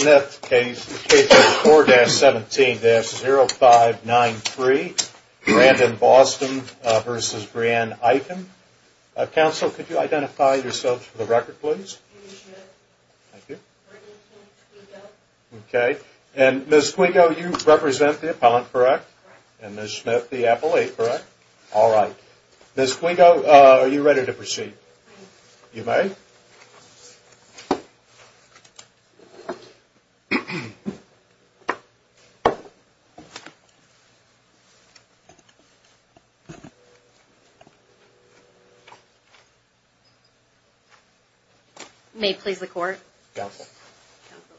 Smith, K4-17-0593, Brandon Boston v. Brianne Eichen. Counsel, could you identify yourselves for the record, please? Thank you. Okay. And Ms. Quigo, you represent the appellant, correct? And Ms. Smith, the appellate, correct? All right. Ms. Quigo, are you ready to proceed? You may. May it please the Court? Counsel. Counsel.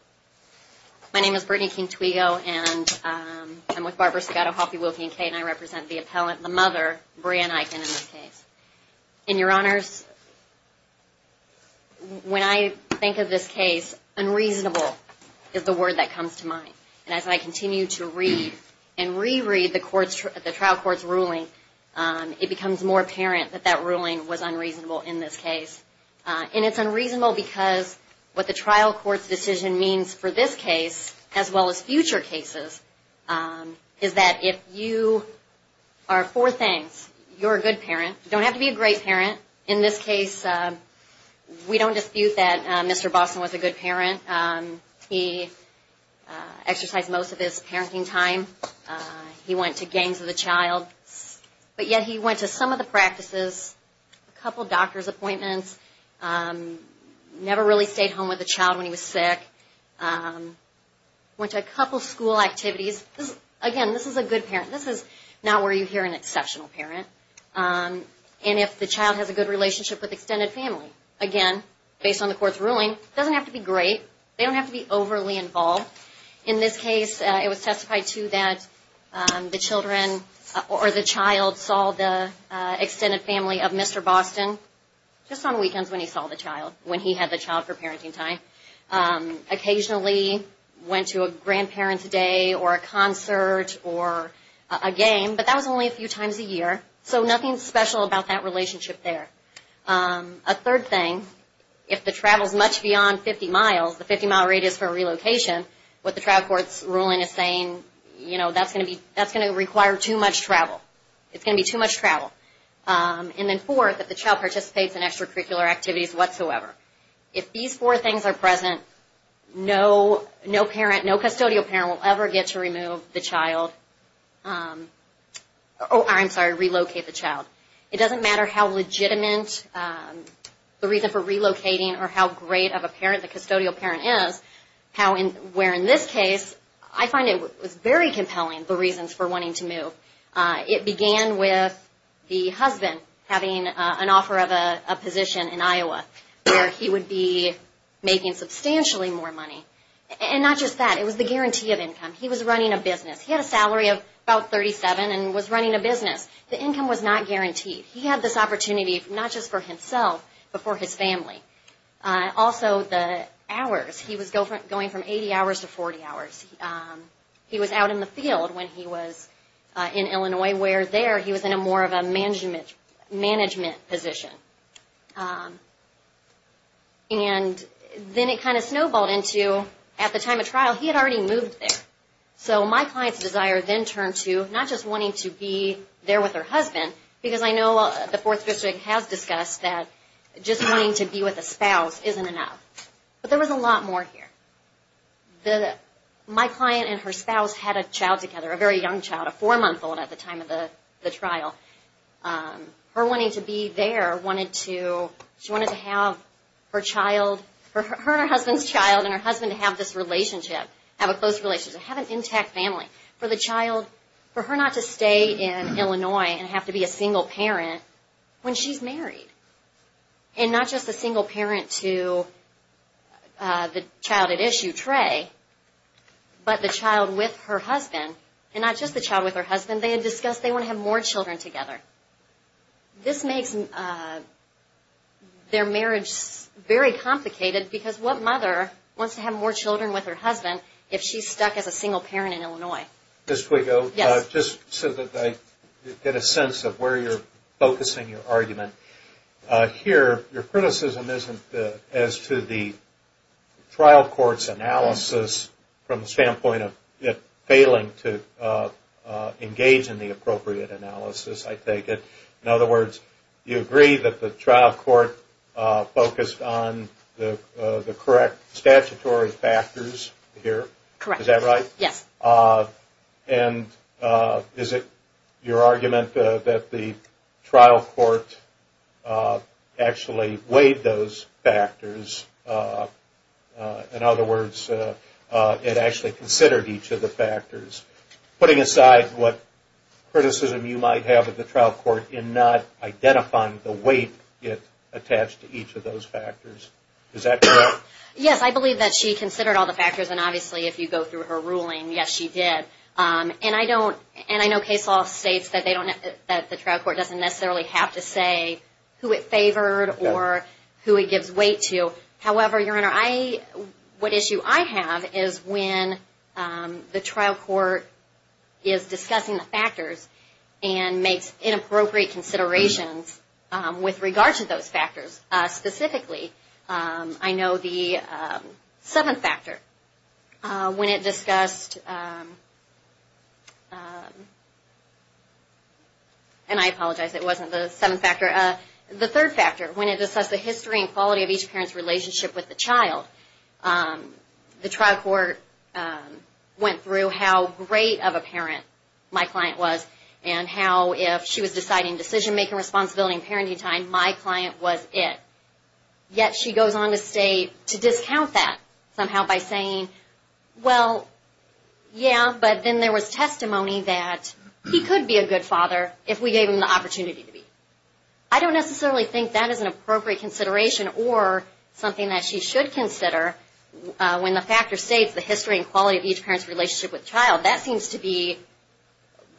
My name is Brittany King-Twego, and I'm with Barbara Sabato-Hoffey, Wilkie, and Kate, and I represent the appellant, the mother, Brianne Eichen, in this case. And, Your Honors, when I think of this case, unreasonable is the word that comes to mind. And as I continue to read and reread the trial court's ruling, it becomes more apparent that that ruling was unreasonable in this case. And it's unreasonable because what the trial court's decision means for this case, as well as future cases, is that if you are for things, you're a good parent, you don't have to be a great parent. In this case, we don't dispute that Mr. Boston was a good parent. He exercised most of his parenting time. He went to games with a child. But yet he went to some of the practices, a couple doctor's appointments, never really stayed home with the child when he was sick, went to a couple school activities. Again, this is a good parent. This is not where you hear an exceptional parent. And if the child has a good relationship with extended family, again, based on the court's ruling, it doesn't have to be great. They don't have to be overly involved. In this case, it was testified to that the children or the child saw the extended family of Mr. Boston just on weekends when he saw the child, when he had the child for parenting time, occasionally went to a grandparent's day or a concert or a game, but that was only a few times a year. So nothing special about that relationship there. A third thing, if the travel's much beyond 50 miles, the 50-mile rate is for a relocation, what the trial court's ruling is saying, you know, that's going to require too much travel. It's going to be too much travel. And then fourth, if the child participates in extracurricular activities whatsoever. If these four things are present, no parent, no custodial parent will ever get to remove the child, oh, I'm sorry, relocate the child. It doesn't matter how legitimate the reason for relocating or how great of a parent the custodial parent is, where in this case, I find it was very compelling, the reasons for wanting to move. It began with the husband having an offer of a position in Iowa where he would be making substantially more money. And not just that, it was the guarantee of income. He was running a business. He had a salary of about 37 and was running a business. The income was not guaranteed. He had this opportunity not just for himself, but for his family. Also, the hours, he was going from 80 hours to 40 hours. He was out in the field when he was in Illinois, where there he was in a more of a management position. And then it kind of snowballed into, at the time of trial, he had already moved there. So my client's desire then turned to not just wanting to be there with her husband, because I know the Fourth District has discussed that just wanting to be with a spouse isn't enough. But there was a lot more here. My client and her spouse had a child together, a very young child, a four-month-old at the time of the trial. Her wanting to be there, she wanted to have her husband's child and her husband to have this relationship, have a close relationship, have an intact family. For her not to stay in Illinois and have to be a single parent when she's married, and issue, Trey, but the child with her husband, and not just the child with her husband, they had discussed they want to have more children together. This makes their marriage very complicated, because what mother wants to have more children with her husband if she's stuck as a single parent in Illinois? Just so that I get a sense of where you're focusing your argument. Here, your criticism isn't as to the trial court's analysis from the standpoint of it failing to engage in the appropriate analysis, I take it. In other words, you agree that the trial court focused on the correct statutory factors here. Correct. Is that right? Yes. And is it your argument that the trial court actually weighed those factors? In other words, it actually considered each of the factors. Putting aside what criticism you might have of the trial court in not identifying the weight attached to each of those factors. Is that correct? Yes, I believe that she considered all the factors. And obviously, if you go through her ruling, yes, she did. And I know case law states that the trial court doesn't necessarily have to say who it favored or who it gives weight to. However, Your Honor, what issue I have is when the trial court is discussing the factors and makes inappropriate considerations with regard to those factors. Specifically, I know the seventh factor. When it discussed, and I apologize, it wasn't the seventh factor. The third factor, when it discussed the history and quality of each parent's relationship with the child, the trial court went through how great of a parent my client was and how if she was deciding decision-making responsibility and parenting time, my client was it. Yet she goes on to say, to discount that somehow by saying, well, yeah, but then there was testimony that he could be a good father if we gave him the opportunity to be. I don't necessarily think that is an appropriate consideration or something that she should consider when the factor states the history and quality of each parent's relationship with the child. Now, that seems to be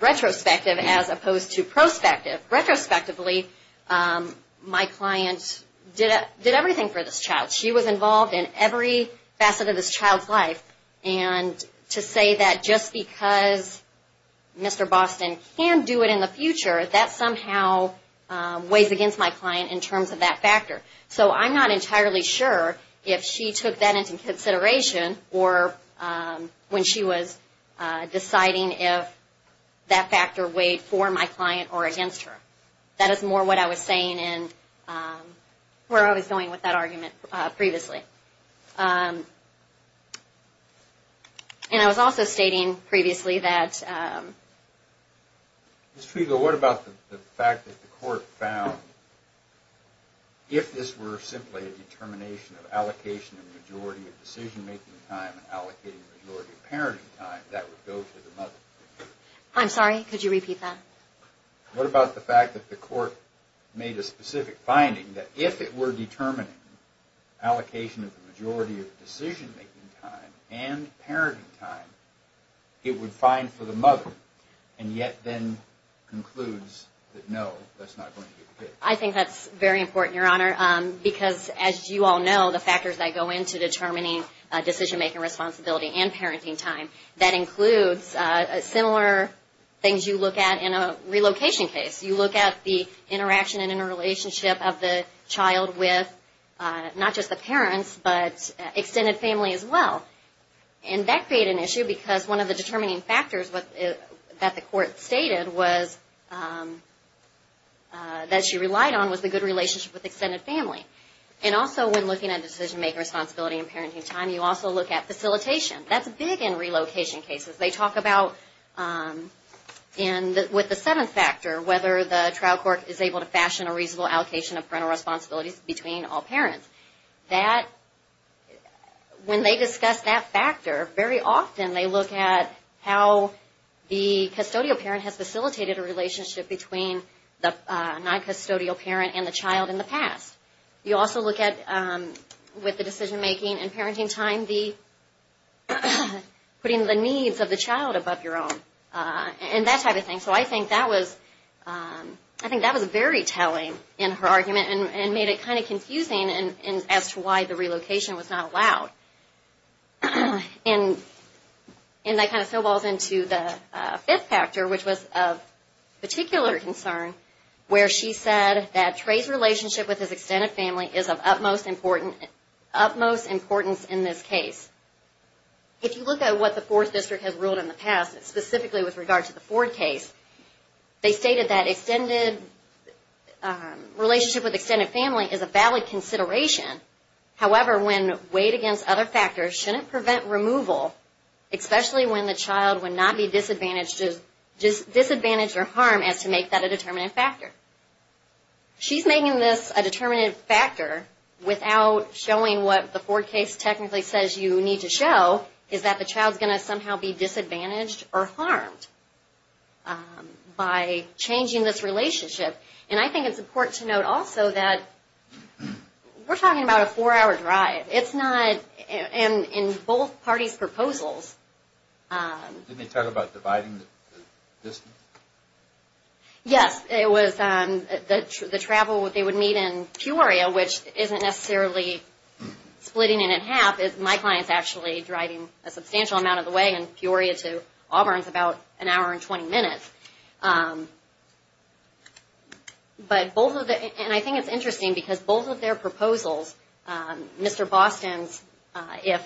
retrospective as opposed to prospective. Retrospectively, my client did everything for this child. She was involved in every facet of this child's life. And to say that just because Mr. Boston can do it in the future, that somehow weighs against my client in terms of that factor. So I'm not entirely sure if she took that into consideration or when she was deciding if that factor weighed for my client or against her. That is more what I was saying in where I was going with that argument previously. And I was also stating previously that... Ms. Trego, what about the fact that the court found, if this were simply a determination of allocation of majority of decision-making time and allocating majority of parenting time, that would go to the mother? I'm sorry, could you repeat that? What about the fact that the court made a specific finding that if it were determining allocation of the majority of decision-making time and parenting time, it would find for the mother, and yet then concludes that no, that's not going to be the case? I think that's very important, Your Honor, because as you all know, the factors that go into determining decision-making responsibility and parenting time, that includes similar things you look at in a relocation case. You look at the interaction and interrelationship of the child with not just the parents, but extended family as well. And that created an issue because one of the determining factors that the court stated that she relied on was the good relationship with extended family. And also when looking at decision-making responsibility and parenting time, you also look at facilitation. That's big in relocation cases. They talk about, with the seventh factor, whether the trial court is able to fashion a reasonable allocation of parental responsibilities between all parents. When they discuss that factor, very often they look at how the custodial parent has facilitated a relationship between the non-custodial parent and the child in the past. You also look at, with the decision-making and parenting time, putting the needs of the child above your own and that type of thing. So I think that was very telling in her argument and made it kind of confusing as to why the relocation was not allowed. And that kind of snowballs into the fifth factor, which was of particular concern, where she said that Trey's relationship with his extended family is of utmost importance in this case. If you look at what the Fourth District has ruled in the past, specifically with regard to the Ford case, they stated that relationship with extended family is a valid consideration. However, when weighed against other factors, shouldn't prevent removal, especially when the child would not be disadvantaged or harmed, as to make that a determinate factor. She's making this a determinate factor without showing what the Ford case technically says you need to show, is that the child's going to somehow be disadvantaged or harmed by changing this relationship. And I think it's important to note also that we're talking about a four-hour drive. It's not, and in both parties' proposals... Didn't they talk about dividing the distance? Yes, it was the travel they would meet in Peoria, which isn't necessarily splitting it in half. My client's actually driving a substantial amount of the way in Peoria to Auburn. It's about an hour and 20 minutes. But both of the, and I think it's interesting because both of their proposals, Mr. Boston's, if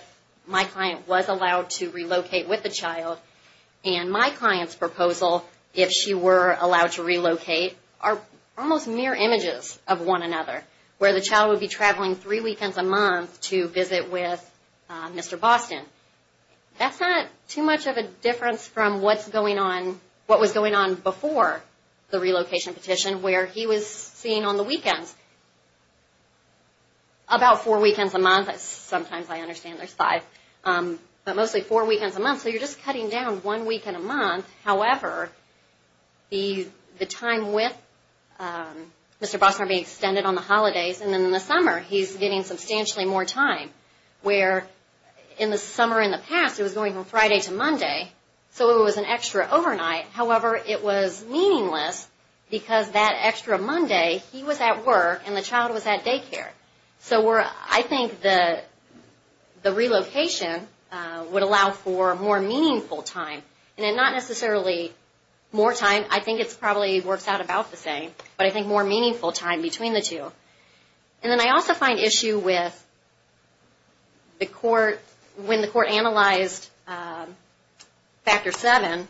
my client was allowed to relocate with the child, and my client's proposal, if she were allowed to relocate, are almost mirror images of one another, where the child would be traveling three weekends a month to visit with Mr. Boston. That's not too much of a difference from what's going on, what was going on before the relocation petition, where he was seen on the weekends about four weekends a month. Sometimes I understand there's five, but mostly four weekends a month. So you're just cutting down one weekend a month. However, the time with Mr. Boston being extended on the holidays, and then in the summer he's getting substantially more time, where in the summer in the past it was going from Friday to Monday, so it was an extra overnight. However, it was meaningless because that extra Monday he was at work and the child was at daycare. So I think the relocation would allow for more meaningful time, and not necessarily more time, I think it probably works out about the same, but I think more meaningful time between the two. And then I also find issue with when the court analyzed Factor 7,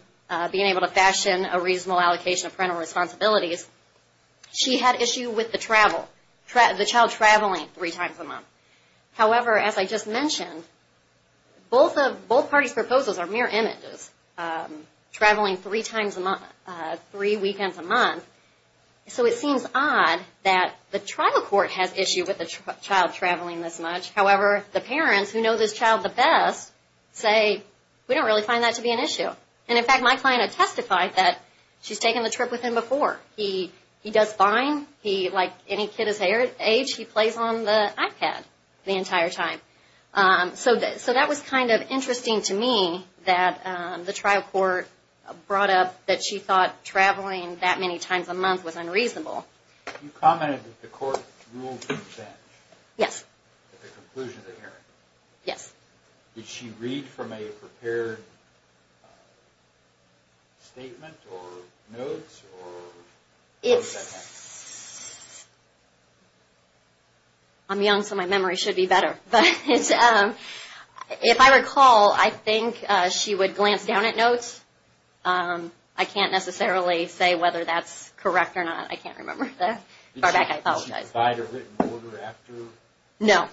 being able to fashion a reasonable allocation of parental responsibilities, she had issue with the child traveling three times a month. However, as I just mentioned, both parties' proposals are mere images, traveling three weekends a month. So it seems odd that the tribal court has issue with the child traveling this much. However, the parents who know this child the best say, we don't really find that to be an issue. And in fact, my client has testified that she's taken the trip with him before. He does fine. Like any kid his age, he plays on the iPad the entire time. So that was kind of interesting to me that the tribal court brought up that she thought traveling that many times a month was unreasonable. You commented that the court ruled in advantage. Yes. At the conclusion of the hearing. Yes. Did she read from a prepared statement or notes or what does that mean? I'm young so my memory should be better. But if I recall, I think she would glance down at notes. I can't necessarily say whether that's correct or not. I can't remember. Did she provide a written order after? No.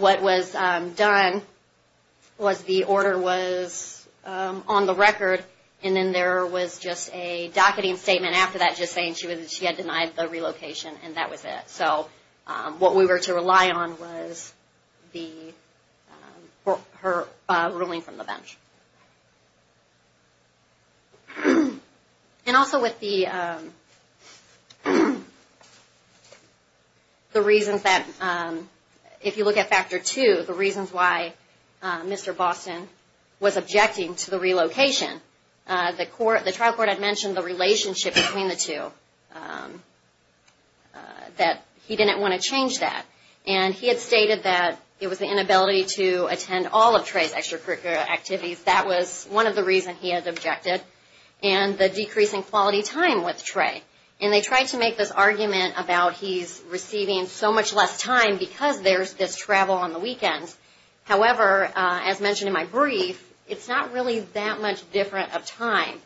What was done was the order was on the record and then there was just a docketing statement after that just saying she had denied the relocation and that was it. So what we were to rely on was her ruling from the bench. And also with the reasons that if you look at factor two, the reasons why Mr. Boston was objecting to the relocation, the trial court had mentioned the relationship between the two, that he didn't want to change that. And he had stated that it was the inability to attend all of Trey's extracurricular activities. That was one of the reasons he had objected. And the decreasing quality time with Trey. And they tried to make this argument about he's receiving so much less time because there's this travel on the weekends. However, as mentioned in my brief, it's not really that much different of time.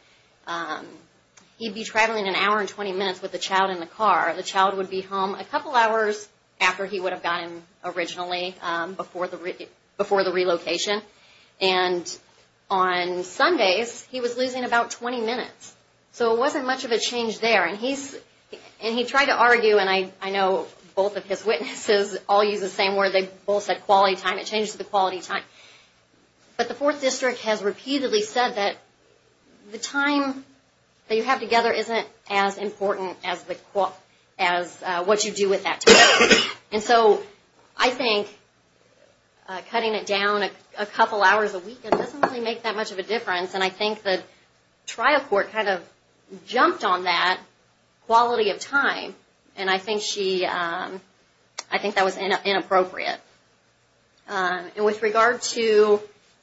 He'd be traveling an hour and 20 minutes with the child in the car. The child would be home a couple hours after he would have gotten originally before the relocation. And on Sundays he was losing about 20 minutes. So it wasn't much of a change there. And he tried to argue, and I know both of his witnesses all use the same word, they both said quality time. It changed to the quality time. But the Fourth District has repeatedly said that the time that you have together isn't as important as what you do with that time. And so I think cutting it down a couple hours a week doesn't really make that much of a difference. And I think the trial court kind of jumped on that quality of time. And I think that was inappropriate. And with regard to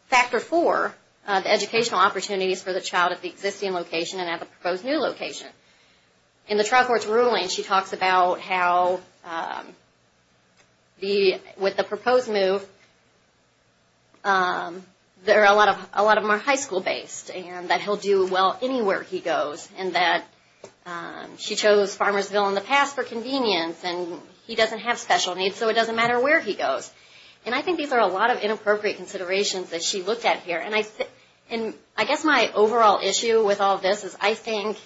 Factor 4, the educational opportunities for the child at the existing location and at the proposed new location. In the trial court's ruling she talks about how with the proposed move, a lot of them are high school based and that he'll do well anywhere he goes. And that she chose Farmersville in the past for convenience, and he doesn't have special needs so it doesn't matter where he goes. And I think these are a lot of inappropriate considerations that she looked at here. And I guess my overall issue with all this is I think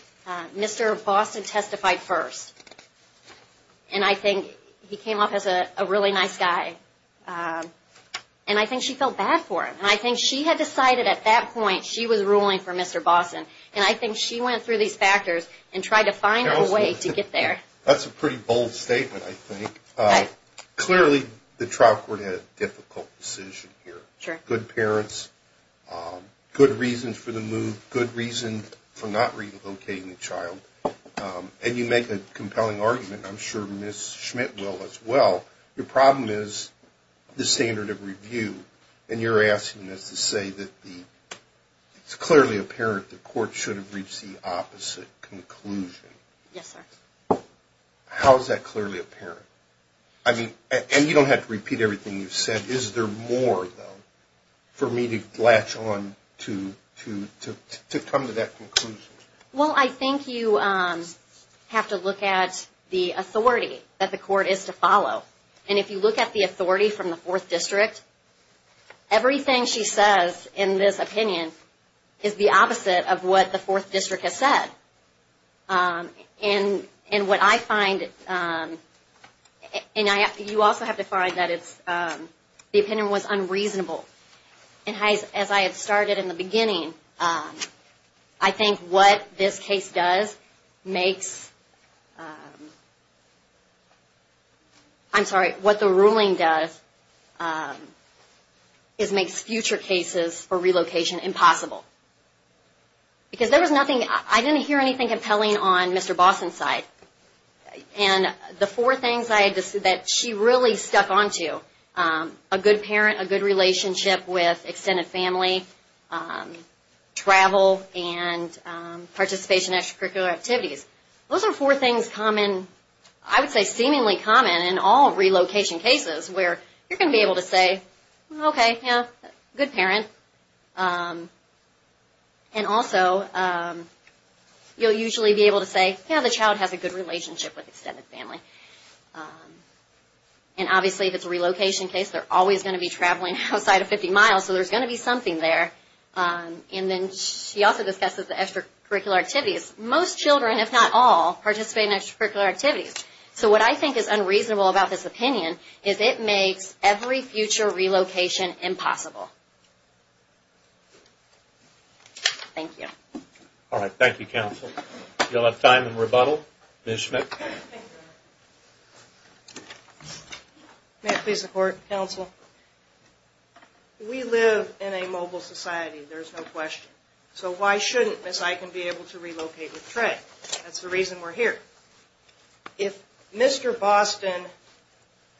Mr. Boston testified first. And I think he came off as a really nice guy. And I think she felt bad for him. And I think she had decided at that point she was ruling for Mr. Boston. And I think she went through these factors and tried to find a way to get there. That's a pretty bold statement, I think. Clearly the trial court had a difficult decision here. Good parents, good reasons for the move, good reason for not relocating the child. And you make a compelling argument. I'm sure Ms. Schmidt will as well. Your problem is the standard of review. And you're asking us to say that it's clearly apparent the court should have reached the opposite conclusion. Yes, sir. How is that clearly apparent? And you don't have to repeat everything you've said. Is there more, though, for me to latch on to come to that conclusion? Well, I think you have to look at the authority that the court is to follow. And if you look at the authority from the Fourth District, everything she says in this opinion is the opposite of what the Fourth District has said. And what I find, and you also have to find that the opinion was unreasonable. And as I had started in the beginning, I think what this case does makes, I'm sorry, what the ruling does is makes future cases for relocation impossible. Because there was nothing, I didn't hear anything compelling on Mr. Boston's side. And the four things that she really stuck on to, a good parent, a good relationship with extended family, travel, and participation in extracurricular activities, those are four things common, I would say seemingly common in all relocation cases where you're going to be able to say, okay, yeah, good parent. And also, you'll usually be able to say, yeah, the child has a good relationship with extended family. And obviously, if it's a relocation case, they're always going to be traveling outside of 50 miles, so there's going to be something there. And then she also discusses the extracurricular activities. Most children, if not all, participate in extracurricular activities. So what I think is unreasonable about this opinion is it makes every future relocation impossible. Thank you. All right. Thank you, counsel. You'll have time in rebuttal. Ms. Schmidt. May I please report, counsel? We live in a mobile society, there's no question. So why shouldn't Ms. Iken be able to relocate with Trey? That's the reason we're here. If Mr. Boston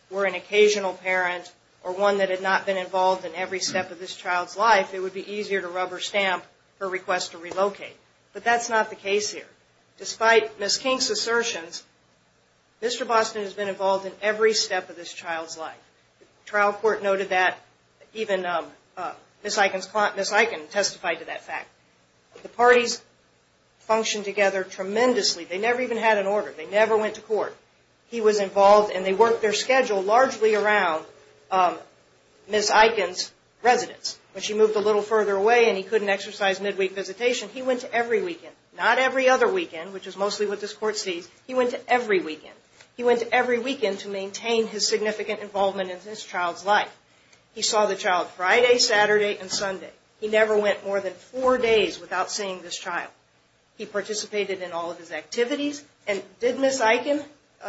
were an occasional parent or one that had not been involved in every step of this child's life, it would be easier to rubber stamp her request to relocate. But that's not the case here. Despite Ms. King's assertions, Mr. Boston has been involved in every step of this child's life. The trial court noted that. Even Ms. Iken testified to that fact. The parties function together tremendously. They never even had an order. They never went to court. He was involved, and they worked their schedule largely around Ms. Iken's residence. When she moved a little further away and he couldn't exercise midweek visitation, he went to every weekend. Not every other weekend, which is mostly what this court sees. He went to every weekend. He went to every weekend to maintain his significant involvement in this child's life. He saw the child Friday, Saturday, and Sunday. He never went more than four days without seeing this child. He participated in all of his activities. And did Ms. Iken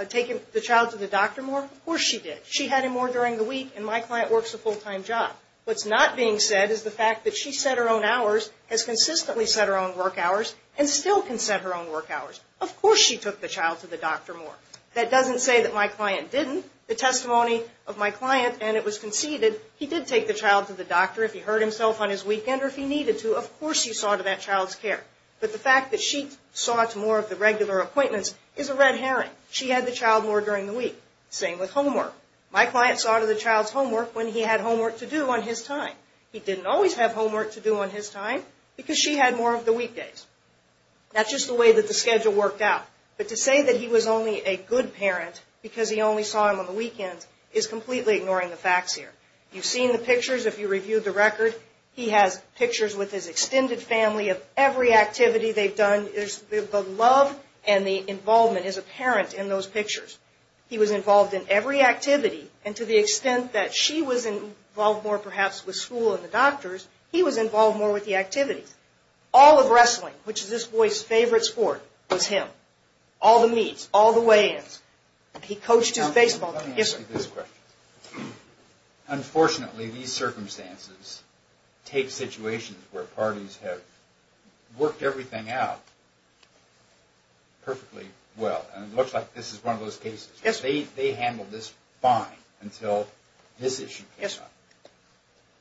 take the child to the doctor more? Of course she did. She had him more during the week, and my client works a full-time job. What's not being said is the fact that she set her own hours, has consistently set her own work hours, and still can set her own work hours. Of course she took the child to the doctor more. That doesn't say that my client didn't. The testimony of my client, and it was conceded, he did take the child to the doctor if he hurt himself on his weekend or if he needed to. Of course you saw to that child's care. But the fact that she saw to more of the regular appointments is a red herring. She had the child more during the week. Same with homework. My client saw to the child's homework when he had homework to do on his time. He didn't always have homework to do on his time, because she had more of the weekdays. That's just the way that the schedule worked out. But to say that he was only a good parent because he only saw him on the weekends is completely ignoring the facts here. You've seen the pictures. If you reviewed the record, he has pictures with his extended family of every activity they've done. The love and the involvement is apparent in those pictures. He was involved in every activity, and to the extent that she was involved more perhaps with school and the doctors, he was involved more with the activities. All of wrestling, which is this boy's favorite sport, was him. All the meets, all the weigh-ins. He coached his baseball team. Let me ask you this question. Unfortunately, these circumstances take situations where parties have worked everything out perfectly well, and it looks like this is one of those cases. They handled this fine until this issue came up.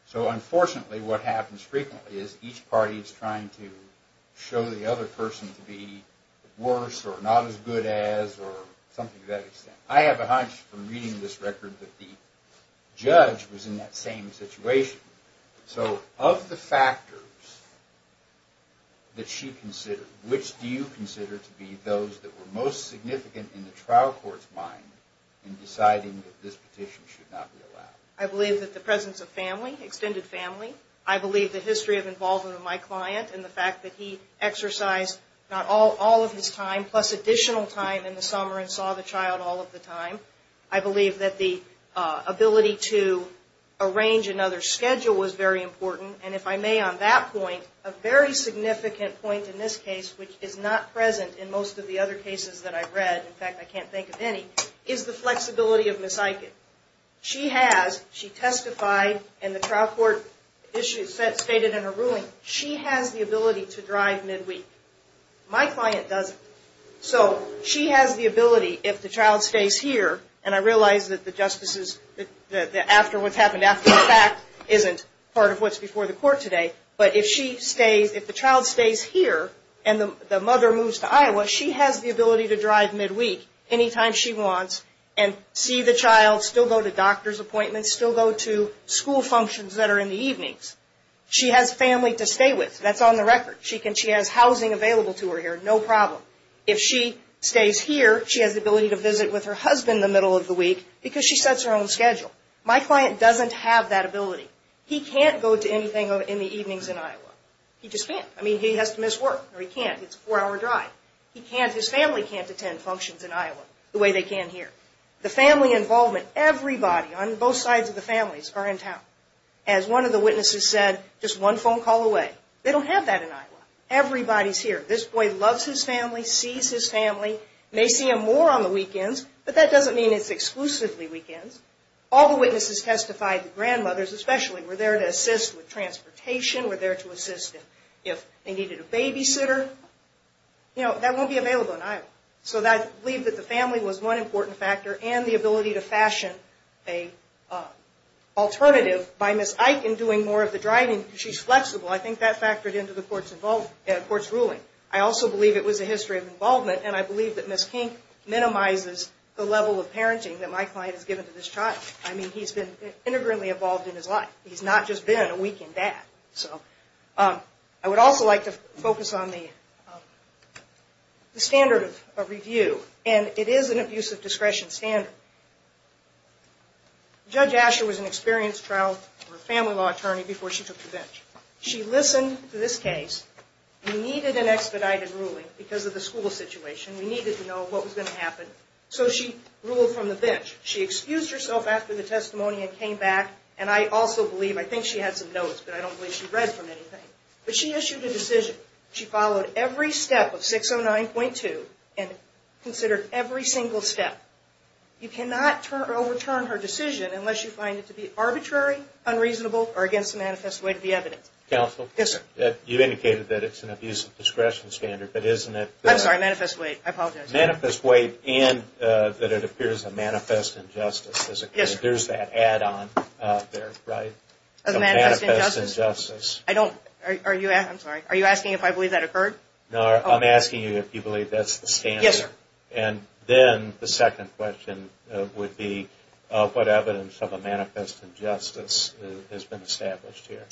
So unfortunately, what happens frequently is each party is trying to show the other person to be worse or not as good as or something to that extent. I have a hunch from reading this record that the judge was in that same situation. So of the factors that she considered, which do you consider to be those that were most significant in the trial court's mind in deciding that this petition should not be allowed? I believe that the presence of family, extended family. I believe the history of involvement of my client and the fact that he exercised not all of his time plus additional time in the summer and saw the child all of the time. I believe that the ability to arrange another schedule was very important. And if I may on that point, a very significant point in this case, which is not present in most of the other cases that I've read, in fact, I can't think of any, is the flexibility of Ms. Eichen. She has, she testified in the trial court issues stated in her ruling, she has the ability to drive midweek. My client doesn't. So she has the ability if the child stays here, and I realize that the justices after what's happened after the fact isn't part of what's before the court today, but if she stays, if the child stays here and the mother moves to Iowa, she has the ability to drive midweek anytime she wants and see the child, still go to doctor's appointments, still go to school functions that are in the evenings. She has family to stay with. That's on the record. She has housing available to her here, no problem. If she stays here, she has the ability to visit with her husband the middle of the week because she sets her own schedule. My client doesn't have that ability. He can't go to anything in the evenings in Iowa. He just can't. I mean, he has to miss work or he can't. It's a four-hour drive. He can't, his family can't attend functions in Iowa the way they can here. The family involvement, everybody on both sides of the families are in town. As one of the witnesses said, just one phone call away. They don't have that in Iowa. Everybody's here. This boy loves his family, sees his family, may see him more on the weekends, but that doesn't mean it's exclusively weekends. All the witnesses testified, the grandmothers especially, were there to assist with transportation, were there to assist if they needed a babysitter. You know, that won't be available in Iowa. So I believe that the family was one important factor and the ability to fashion an alternative by Miss Iken doing more of the driving because she's flexible. I think that factored into the court's ruling. I also believe it was a history of involvement and I believe that Miss Kink minimizes the level of parenting that my client has given to this child. I mean, he's been integrally involved in his life. He's not just been a weekend dad. So I would also like to focus on the standard of review, and it is an abuse of discretion standard. Judge Asher was an experienced trial family law attorney before she took the bench. She listened to this case. We needed an expedited ruling because of the school situation. We needed to know what was going to happen. So she ruled from the bench. She excused herself after the testimony and came back, and I also believe, I think she had some notes, but I don't believe she read from anything. But she issued a decision. She followed every step of 609.2 and considered every single step. You cannot overturn her decision unless you find it to be arbitrary, unreasonable, or against the manifest weight of the evidence. Counsel? Yes, sir. You indicated that it's an abuse of discretion standard, but isn't it? I'm sorry, manifest weight. I apologize. Manifest weight and that it appears a manifest injustice. Yes, sir. There's that add-on there, right? A manifest injustice. A manifest injustice. I don't – are you – I'm sorry. Are you asking if I believe that occurred? No, I'm asking you if you believe that's the standard. Yes, sir. And then the second question would be what evidence of a manifest injustice has been established here?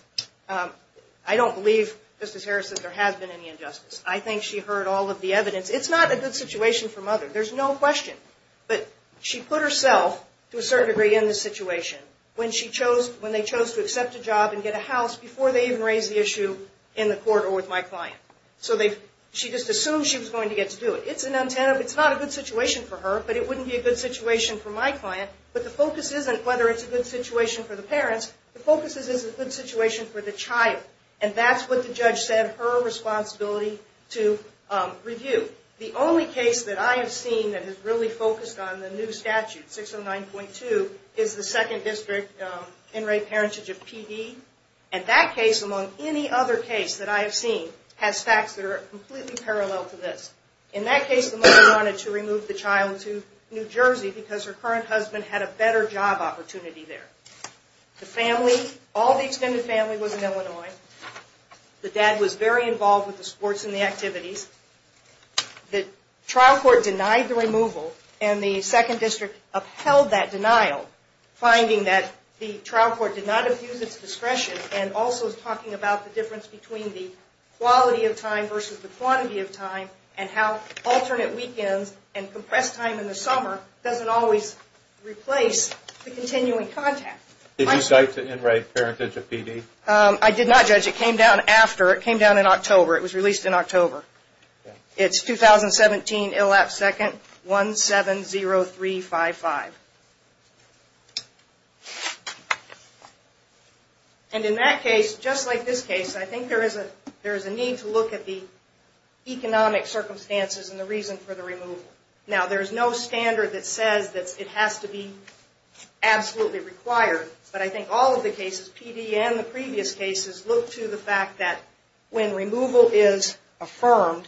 I don't believe, Justice Harrison, there has been any injustice. I think she heard all of the evidence. It's not a good situation for Mother. There's no question. But she put herself, to a certain degree, in this situation when she chose – when they chose to accept a job and get a house before they even raised the issue in the court or with my client. So she just assumed she was going to get to do it. It's an antenna. It's not a good situation for her, but it wouldn't be a good situation for my client. But the focus isn't whether it's a good situation for the parents. The focus is, is it a good situation for the child? And that's what the judge said her responsibility to review. The only case that I have seen that has really focused on the new statute, 609.2, is the second district in-rate parentage of PD. And that case, among any other case that I have seen, has facts that are completely parallel to this. In that case, the mother wanted to remove the child to New Jersey because her current husband had a better job opportunity there. The family, all the extended family was in Illinois. The dad was very involved with the sports and the activities. The trial court denied the removal, and the second district upheld that denial, finding that the trial court did not abuse its discretion and also is talking about the difference between the quality of time versus the quantity of time and how alternate weekends and compressed time in the summer doesn't always replace the continuing contact. Did you cite the in-rate parentage of PD? I did not, Judge. It came down after. It came down in October. It was released in October. It's 2017, ILAP second, 170355. And in that case, just like this case, I think there is a need to look at the economic circumstances and the reason for the removal. Now, there is no standard that says that it has to be absolutely required, but I think all of the cases, PD and the previous cases, look to the fact that when removal is affirmed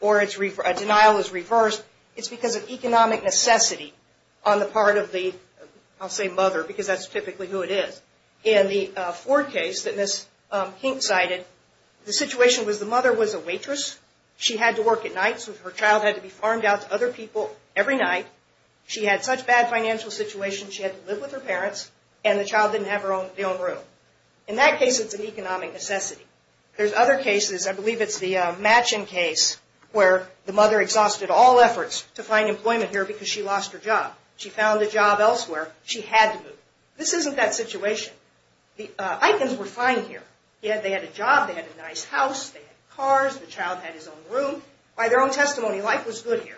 or a denial is reversed, it's because of economic necessity on the part of the, I'll say mother, because that's typically who it is. In the Ford case that Ms. Hink cited, the situation was the mother was a waitress. She had to work at night, so her child had to be farmed out to other people every night. She had such bad financial situations, she had to live with her parents, and the child didn't have the own room. In that case, it's an economic necessity. There's other cases, I believe it's the Matching case, where the mother exhausted all efforts to find employment here because she lost her job. She found a job elsewhere. She had to move. This isn't that situation. The Itons were fine here. They had a job. They had a nice house. They had cars. The child had his own room. By their own testimony, life was good here.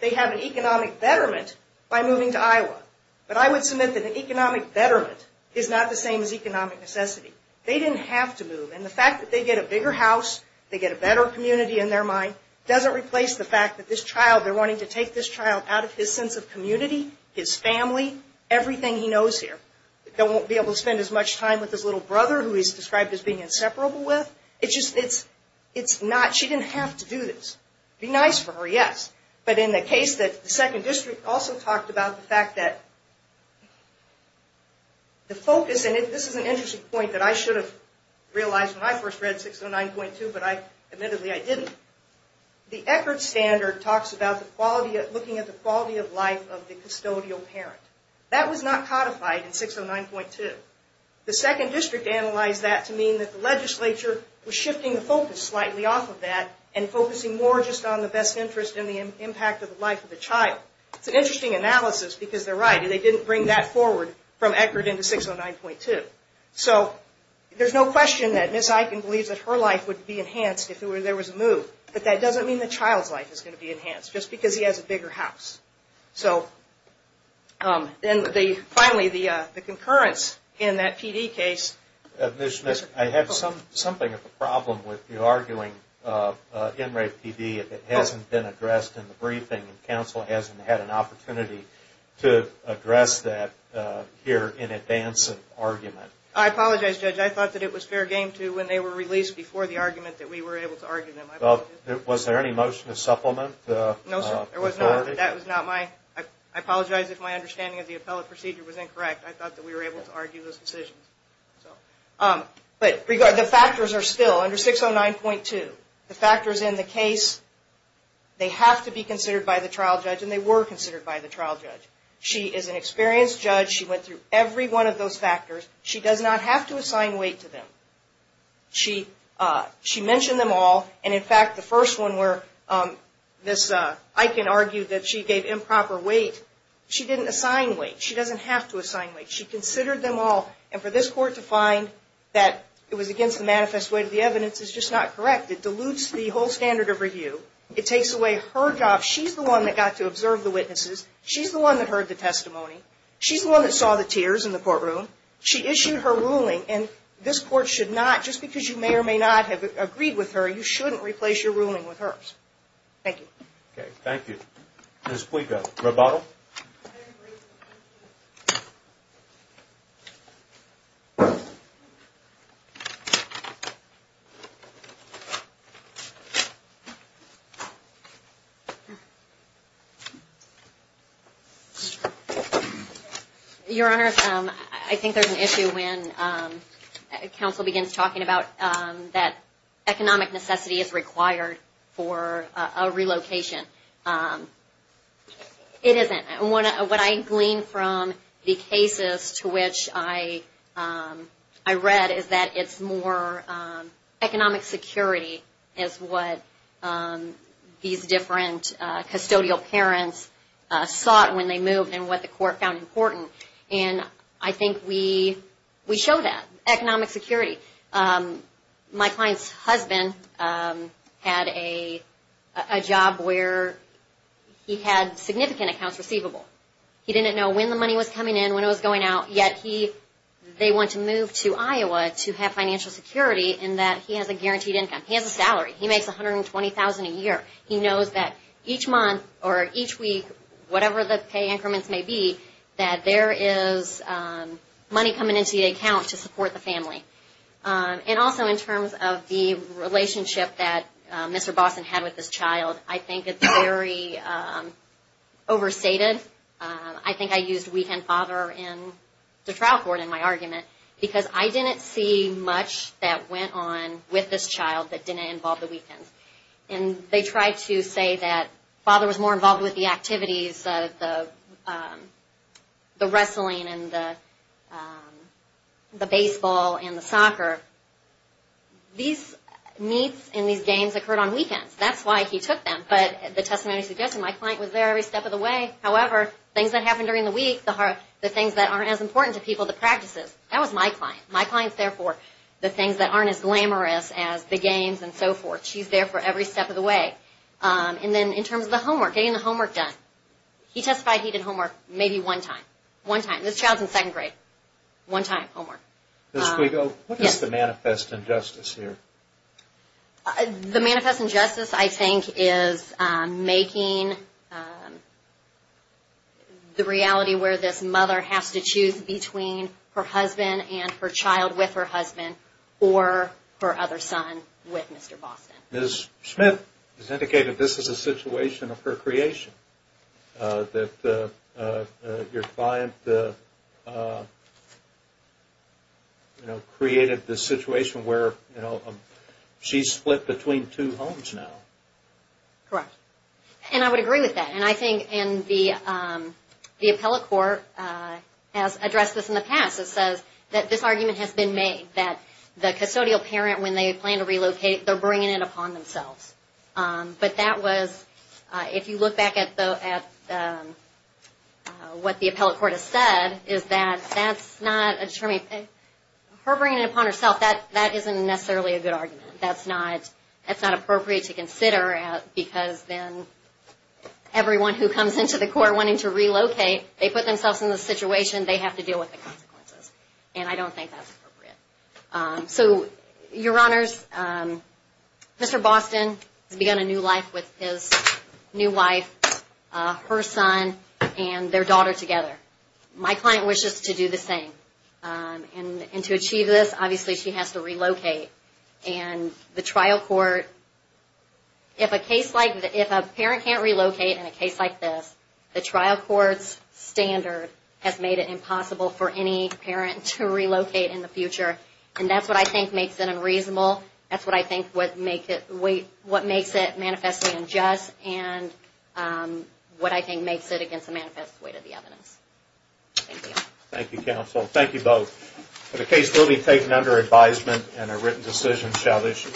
They have an economic betterment by moving to Iowa. But I would submit that an economic betterment is not the same as economic necessity. They didn't have to move. And the fact that they get a bigger house, they get a better community in their mind, doesn't replace the fact that this child, they're wanting to take this child out of his sense of community, his family, everything he knows here. They won't be able to spend as much time with his little brother, who he's described as being inseparable with. It's just, it's not, she didn't have to do this. It would be nice for her, yes. But in the case that the Second District also talked about the fact that the focus, and this is an interesting point that I should have realized when I first read 609.2, but admittedly I didn't. The Eckerd Standard talks about looking at the quality of life of the custodial parent. That was not codified in 609.2. The Second District analyzed that to mean that the legislature was shifting the focus slightly off of that and focusing more just on the best interest and the impact of the life of the child. It's an interesting analysis because they're right. They didn't bring that forward from Eckerd into 609.2. So there's no question that Ms. Eichen believes that her life would be enhanced if there was a move. But that doesn't mean the child's life is going to be enhanced, just because he has a bigger house. So then finally the concurrence in that PD case. Ms. Smith, I have something of a problem with you arguing in rape PD if it hasn't been addressed in the briefing and counsel hasn't had an opportunity to address that here in advance of argument. I apologize, Judge. I thought that it was fair game, too, when they were released before the argument that we were able to argue them. Was there any motion to supplement? No, sir. I apologize if my understanding of the appellate procedure was incorrect. I thought that we were able to argue those decisions. But the factors are still under 609.2. The factors in the case, they have to be considered by the trial judge, and they were considered by the trial judge. She is an experienced judge. She went through every one of those factors. She does not have to assign weight to them. She mentioned them all. And, in fact, the first one where this Eichen argued that she gave improper weight, she didn't assign weight. She doesn't have to assign weight. She considered them all. And for this court to find that it was against the manifest weight of the evidence is just not correct. It dilutes the whole standard of review. It takes away her job. She's the one that got to observe the witnesses. She's the one that heard the testimony. She's the one that saw the tears in the courtroom. She issued her ruling, and this court should not, just because you may or may not have agreed with her, you shouldn't replace your ruling with hers. Thank you. Okay, thank you. Ms. Puig, a rebuttal? Very briefly, thank you. Your Honor, I think there's an issue when counsel begins talking about that economic necessity is required for a relocation. It isn't. What I glean from the cases to which I read is that it's more economic security is what these different custodial parents sought when they moved and what the court found important. And I think we show that, economic security. My client's husband had a job where he had significant accounts receivable. He didn't know when the money was coming in, when it was going out, yet they want to move to Iowa to have financial security in that he has a guaranteed income. He has a salary. He makes $120,000 a year. He knows that each month or each week, whatever the pay increments may be, that there is money coming into the account to support the family. And also in terms of the relationship that Mr. Boston had with this child, I think it's very overstated. I think I used weekend father in the trial court in my argument because I didn't see much that went on with this child that didn't involve the weekend. And they tried to say that father was more involved with the activities, the wrestling and the baseball and the soccer. These meets and these games occurred on weekends. That's why he took them. But the testimony suggested my client was there every step of the way. However, things that happened during the week, the things that aren't as important to people, the practices, that was my client. My client's there for the things that aren't as glamorous as the games and so forth. She's there for every step of the way. And then in terms of the homework, getting the homework done. He testified he did homework maybe one time. One time. This child's in second grade. One time, homework. Ms. Guigo, what is the manifest injustice here? The manifest injustice, I think, is making the reality where this mother has to choose between her husband and her child with her husband or her other son with Mr. Boston. Ms. Smith has indicated this is a situation of her creation. That your client created this situation where she's split between two homes now. Correct. And I would agree with that. And I think the appellate court has addressed this in the past. It says that this argument has been made. That the custodial parent, when they plan to relocate, they're bringing it upon themselves. But that was, if you look back at what the appellate court has said, is that that's not, her bringing it upon herself, that isn't necessarily a good argument. That's not appropriate to consider because then everyone who comes into the court wanting to relocate, they put themselves in this situation, they have to deal with the consequences. And I don't think that's appropriate. So, Your Honors, Mr. Boston has begun a new life with his new wife, her son, and their daughter together. My client wishes to do the same. And to achieve this, obviously she has to relocate. And the trial court, if a parent can't relocate in a case like this, the trial court's standard has made it impossible for any parent to relocate in the future. And that's what I think makes it unreasonable. That's what I think makes it manifestly unjust. And what I think makes it against the manifest weight of the evidence. Thank you. Thank you, counsel. Thank you both. The case will be taken under advisement and a written decision shall issue.